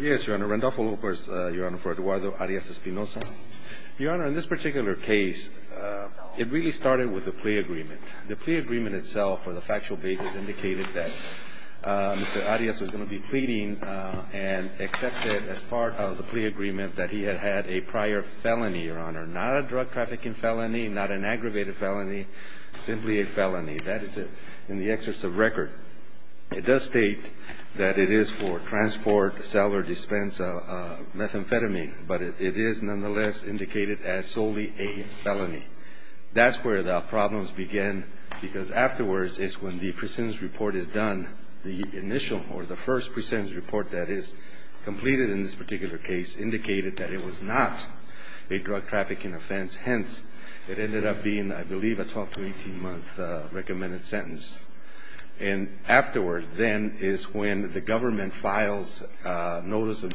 Yes, Your Honor. Randolph Lopez, Your Honor, for Eduardo Arias-Espinoza. Your Honor, in this particular case, it really started with a plea agreement. The plea agreement itself, for the factual basis, indicated that Mr. Arias was going to be pleading and accepted as part of the plea agreement that he had had a prior felony, Your Honor, not a drug trafficking felony, not an aggravated felony, simply a felony. That is in the exercise of record. It does state that it is for transport, sell or dispense of methamphetamine, but it is nonetheless indicated as solely a felony. That's where the problems began, because afterwards is when the precedence report is done, the initial or the first precedence report that is completed in this particular case indicated that it was not a drug trafficking offense. Hence, it ended up being, I believe, a 12 to 18-month recommended sentence. And afterwards, then, is when the government files notice of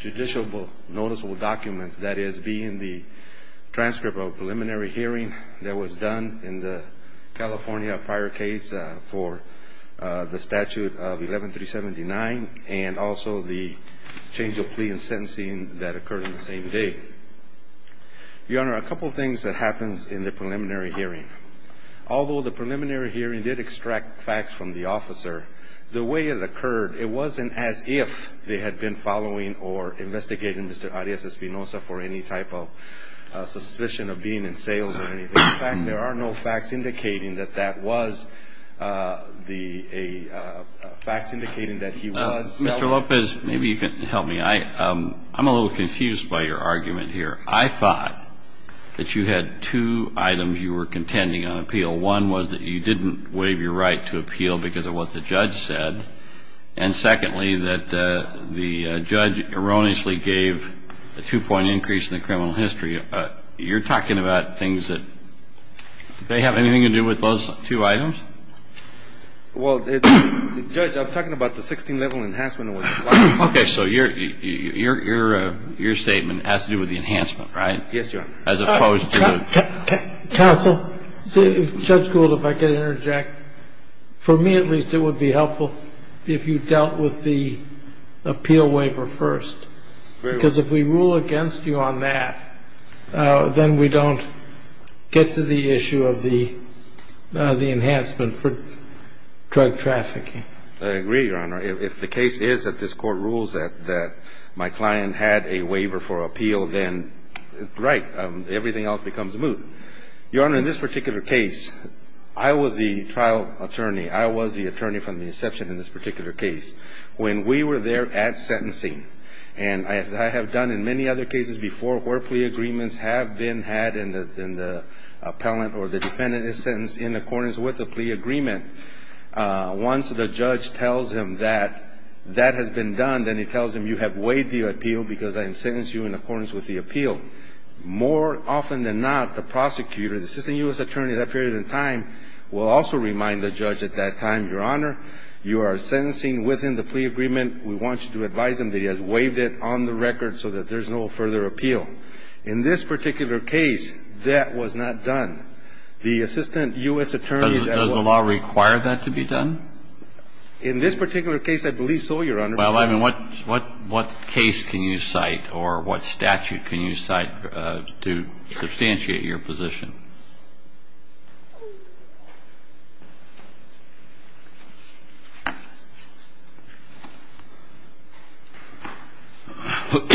judicial noticeable documents, that is, being the transcript of a preliminary hearing that was done in the California prior case for the statute of 11379 and also the change of plea and sentencing that occurred on the same day. Your Honor, a couple of things that happens in the preliminary hearing. Although the preliminary hearing did extract facts from the officer, the way it occurred, it wasn't as if they had been following or investigating Mr. Arias Espinoza for any type of suspicion of being in sales or anything. In fact, there are no facts indicating that that was the facts indicating that he was selling. Mr. Lopez, maybe you can help me. I'm a little confused by your argument here. I thought that you had two items you were contending on appeal. One was that you didn't waive your right to appeal because of what the judge said. And secondly, that the judge erroneously gave a two-point increase in the criminal history. You're talking about things that they have anything to do with those two items? Well, Judge, I'm talking about the 16-level enhancement. Okay. So your statement has to do with the enhancement, right? Yes, Your Honor. As opposed to the ---- Counsel, if Judge Gould, if I could interject. For me, at least, it would be helpful if you dealt with the appeal waiver first. Because if we rule against you on that, then we don't get to the issue of the enhancement. And if we rule against you on that, then we don't get to the issue of the enhancement. And if we rule against you on that, then we don't get to the issue of the enhancement for drug trafficking. I agree, Your Honor. If the case is that this Court rules that my client had a waiver for appeal, then right. Everything else becomes moot. Your Honor, in this particular case, I was the trial attorney. I was the attorney from the inception in this particular case. When we were there at sentencing, and as I have done in many other cases before where plea agreements have been had and the appellant or the defendant is sentenced in accordance with the plea agreement, once the judge tells him that that has been done, then he tells him you have waived the appeal because I have sentenced you in accordance with the appeal. More often than not, the prosecutor, the assistant U.S. attorney at that period of time, will also remind the judge at that time, Your Honor, you are sentencing within the plea agreement. We want you to advise him that he has waived it on the record so that there's no further appeal. In this particular case, that was not done. The assistant U.S. attorney at that point of time. Does the law require that to be done? In this particular case, I believe so, Your Honor. Well, I mean, what case can you cite or what statute can you cite to substantiate your position? Give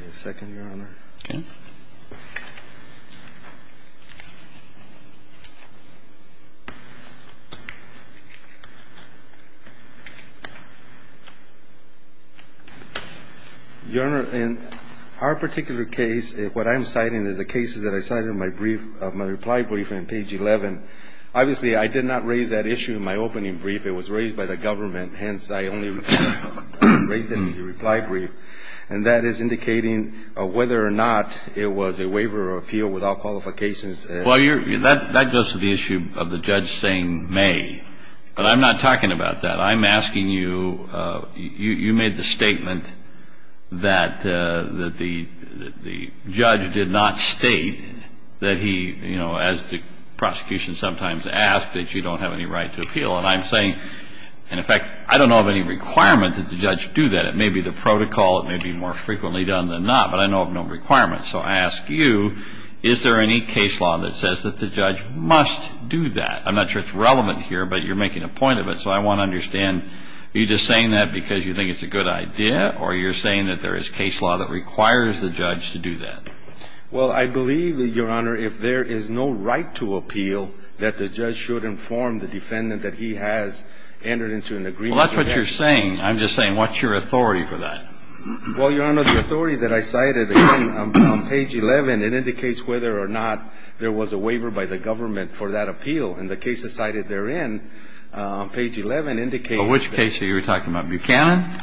me a second, Your Honor. Okay. Your Honor, in our particular case, what I'm citing is the cases that I cited in my brief, my reply brief on page 11. Obviously, I did not raise that issue in my opening brief. It was raised by the government. Hence, I only raised it in the reply brief. I'm not saying that it was a waiver of appeal without qualifications. Well, that goes to the issue of the judge saying may. But I'm not talking about that. I'm asking you, you made the statement that the judge did not state that he, you know, as the prosecution sometimes asks, that you don't have any right to appeal. And I'm saying, and in fact, I don't know of any requirement that the judge do that. It may be the protocol. It may be more frequently done than not. But I know of no requirement. So I ask you, is there any case law that says that the judge must do that? I'm not sure it's relevant here, but you're making a point of it. So I want to understand, are you just saying that because you think it's a good idea or you're saying that there is case law that requires the judge to do that? Well, I believe, Your Honor, if there is no right to appeal, that the judge should be able to do that. I'm just saying that it's a good idea to inform the defendant that he has entered into an agreement. Well, that's what you're saying. I'm just saying, what's your authority for that? Well, Your Honor, the authority that I cited on page 11, it indicates whether or not there was a waiver by the government for that appeal. And the case that's cited therein on page 11 indicates that the judge should be able to do that. But which case are you talking about, Buchanan?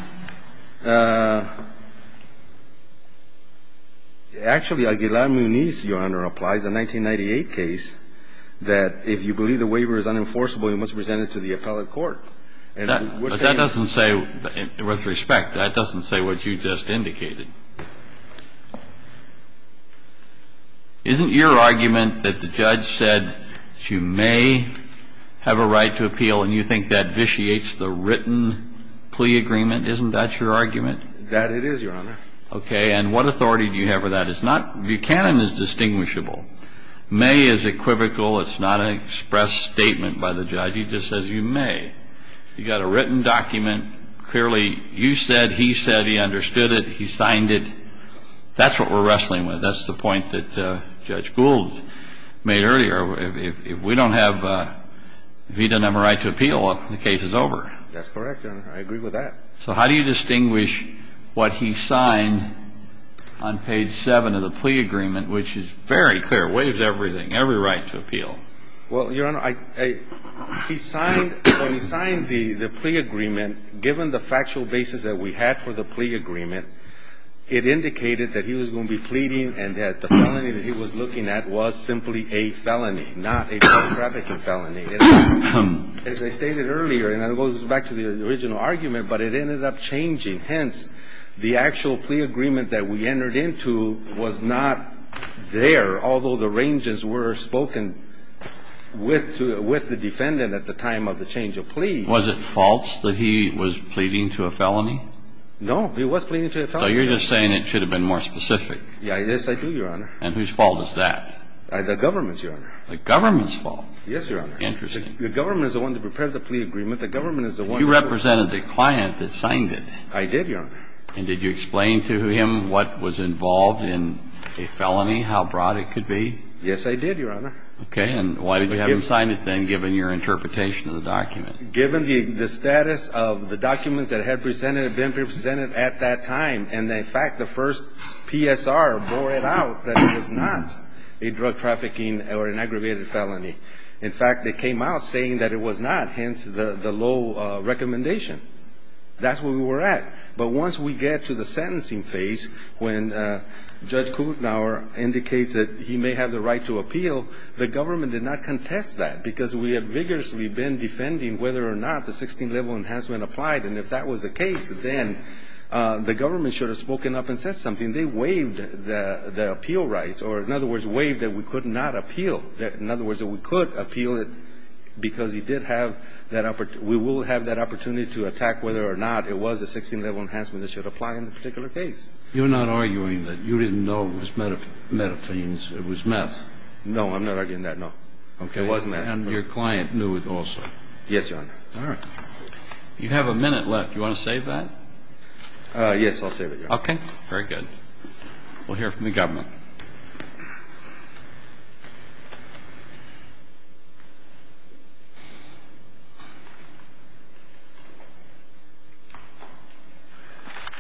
Actually, Aguilar-Muñiz, Your Honor, applies a 1998 case that if you believe the waiver is unenforceable, you must present it to the appellate court. But that doesn't say, with respect, that doesn't say what you just indicated. Isn't your argument that the judge said that you may have a right to appeal and you think that vitiates the written plea agreement, isn't that your argument? That it is, Your Honor. Okay. And what authority do you have for that? It's not – Buchanan is distinguishable. May is equivocal. It's not an express statement by the judge. He just says you may. You've got a written document. Clearly, you said, he said, he understood it. He signed it. That's what we're wrestling with. That's the point that Judge Gould made earlier. If we don't have – if he doesn't have a right to appeal, the case is over. That's correct, Your Honor. I agree with that. So how do you distinguish what he signed on page 7 of the plea agreement, which is very clear, waives everything, every right to appeal? Well, Your Honor, he signed – when he signed the plea agreement, given the factual basis that we had for the plea agreement, it indicated that he was going to be pleading and that the felony that he was looking at was simply a felony, not a child trafficking felony. As I stated earlier, and it goes back to the original argument, but it ended up changing. Hence, the actual plea agreement that we entered into was not there, although the ranges were spoken with the defendant at the time of the change of plea. Was it false that he was pleading to a felony? No, he was pleading to a felony. So you're just saying it should have been more specific. Yes, I do, Your Honor. And whose fault is that? The government's, Your Honor. The government's fault? Yes, Your Honor. Interesting. The government is the one that prepared the plea agreement. The government is the one – You represented the client that signed it. I did, Your Honor. And did you explain to him what was involved in a felony, how broad it could be? Yes, I did, Your Honor. Okay. And why did you have him sign it then, given your interpretation of the document? Given the status of the documents that had presented, been presented at that time and, in fact, the first PSR bore it out that it was not a drug trafficking or an aggravated felony. In fact, they came out saying that it was not, hence the low recommendation. That's where we were at. But once we get to the sentencing phase, when Judge Kutenhauer indicates that he may have the right to appeal, the government did not contest that because we had vigorously been defending whether or not the 16th-level enhancement applied. And if that was the case, then the government should have spoken up and said something. They waived the appeal rights, or, in other words, waived that we could not appeal – in other words, that we could appeal it because he did have that – we will have that opportunity to attack whether or not it was a 16th-level enhancement that should apply in the particular case. You're not arguing that you didn't know it was methamphetamines. It was meth. No, I'm not arguing that, no. Okay. It wasn't that. And your client knew it also. Yes, Your Honor. All right. You have a minute left. Do you want to save that? Yes, I'll save it, Your Honor. Okay. Very good. We'll hear from the government.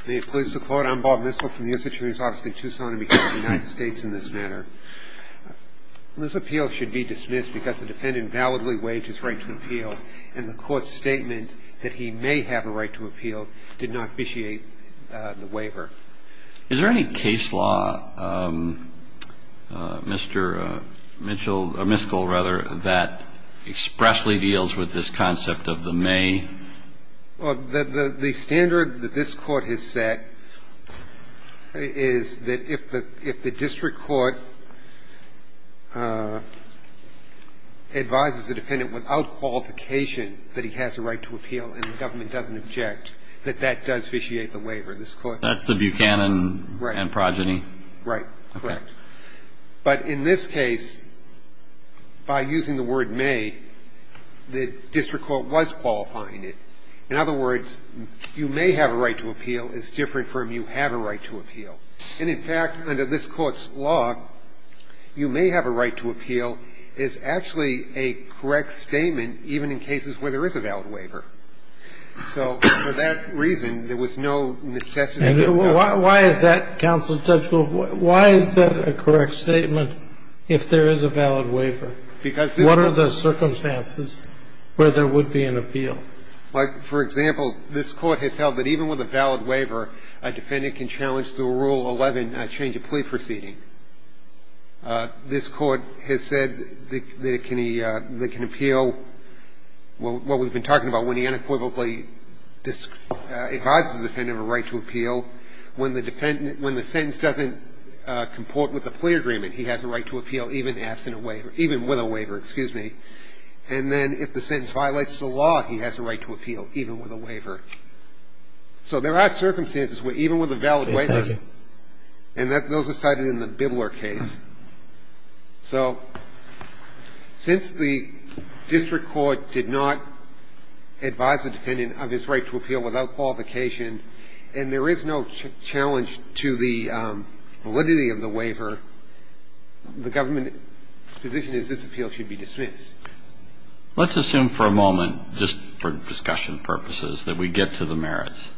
May it please the Court. I'm Bob Mistel from the U.S. Attorney's Office in Tucson, and because of the United because the defendant validly waived his right to appeal, and the Court's statement that he may have a right to appeal did not officiate the waiver. Is there any case law, Mr. Mitchell, or Mistel, rather, that expressly deals with this concept of the may? Well, the standard that this Court has set is that if the district court advises a defendant without qualification that he has a right to appeal and the government doesn't object, that that does officiate the waiver. This Court doesn't. That's the Buchanan and Progeny? Right. Correct. But in this case, by using the word may, the district court was qualifying. In other words, you may have a right to appeal. It's different from you have a right to appeal. And, in fact, under this Court's law, you may have a right to appeal is actually a correct statement, even in cases where there is a valid waiver. So for that reason, there was no necessity. And why is that, Counselor Tuchel? Why is that a correct statement if there is a valid waiver? Because this Court What are the circumstances where there would be an appeal? For example, this Court has held that even with a valid waiver, a defendant can challenge through Rule 11 a change of plea proceeding. This Court has said that it can appeal what we've been talking about, when he unequivocally advises the defendant of a right to appeal. When the sentence doesn't comport with the plea agreement, he has a right to appeal even with a waiver, excuse me. And then if the sentence violates the law, he has a right to appeal even with a waiver. So there are circumstances where even with a valid waiver, and those are cited in the Bibler case. So since the district court did not advise the defendant of his right to appeal without qualification, and there is no challenge to the validity of the waiver, the government position is this appeal should be dismissed. Let's assume for a moment, just for discussion purposes, that we get to the merits.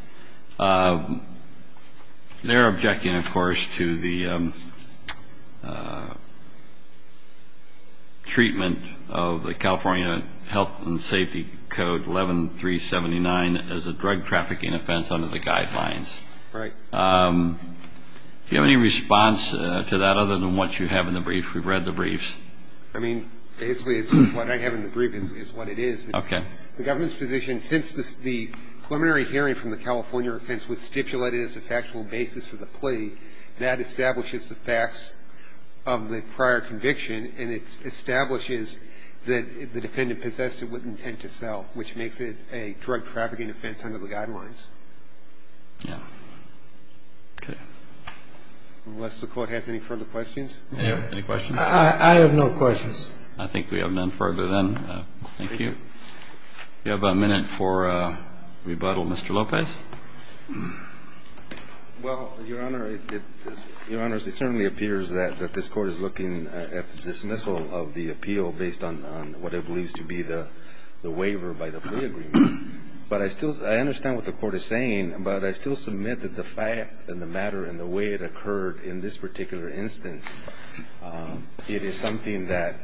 They are objecting, of course, to the treatment of the California Health and Safety Code 11379 as a drug trafficking offense under the guidelines. Right. Do you have any response to that other than what you have in the brief? We've read the briefs. I mean, basically, it's what I have in the brief is what it is. Okay. The government's position, since the preliminary hearing from the California offense was stipulated as a factual basis for the plea, that establishes the facts of the prior conviction, and it establishes that if the defendant possessed it with intent to sell, which makes it a drug trafficking offense under the guidelines. Yeah. Okay. Unless the Court has any further questions. Any questions? I have no questions. I think we have none further then. Thank you. We have a minute for rebuttal. Mr. Lopez. Well, Your Honor, it certainly appears that this Court is looking at dismissal of the appeal based on what it believes to be the waiver by the plea agreement. But I still understand what the Court is saying, but I still submit that the fact and the matter and the way it occurred in this particular instance, it is something that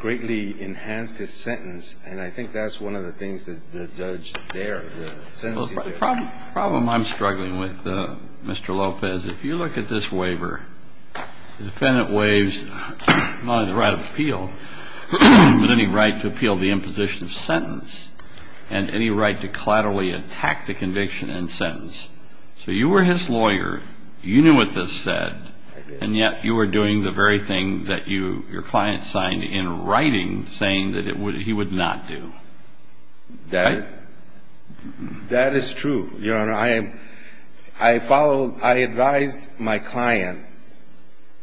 greatly enhanced his sentence, and I think that's one of the things that the judge dared, the sentencing dared. The problem I'm struggling with, Mr. Lopez, if you look at this waiver, the defendant had the right of appeal, but then he had the right to appeal the imposition of sentence and any right to collaterally attack the conviction and sentence. So you were his lawyer. You knew what this said. I did. And yet you were doing the very thing that your client signed in writing, saying that he would not do. That is true, Your Honor. I followed, I advised my client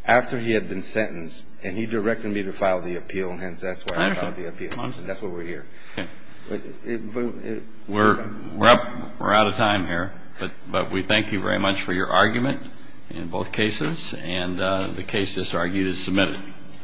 after he had been sentenced, and he directed me to file the appeal, and hence that's why I filed the appeal. And that's why we're here. Okay. We're out of time here, but we thank you very much for your argument in both cases, and the case is argued as submitted.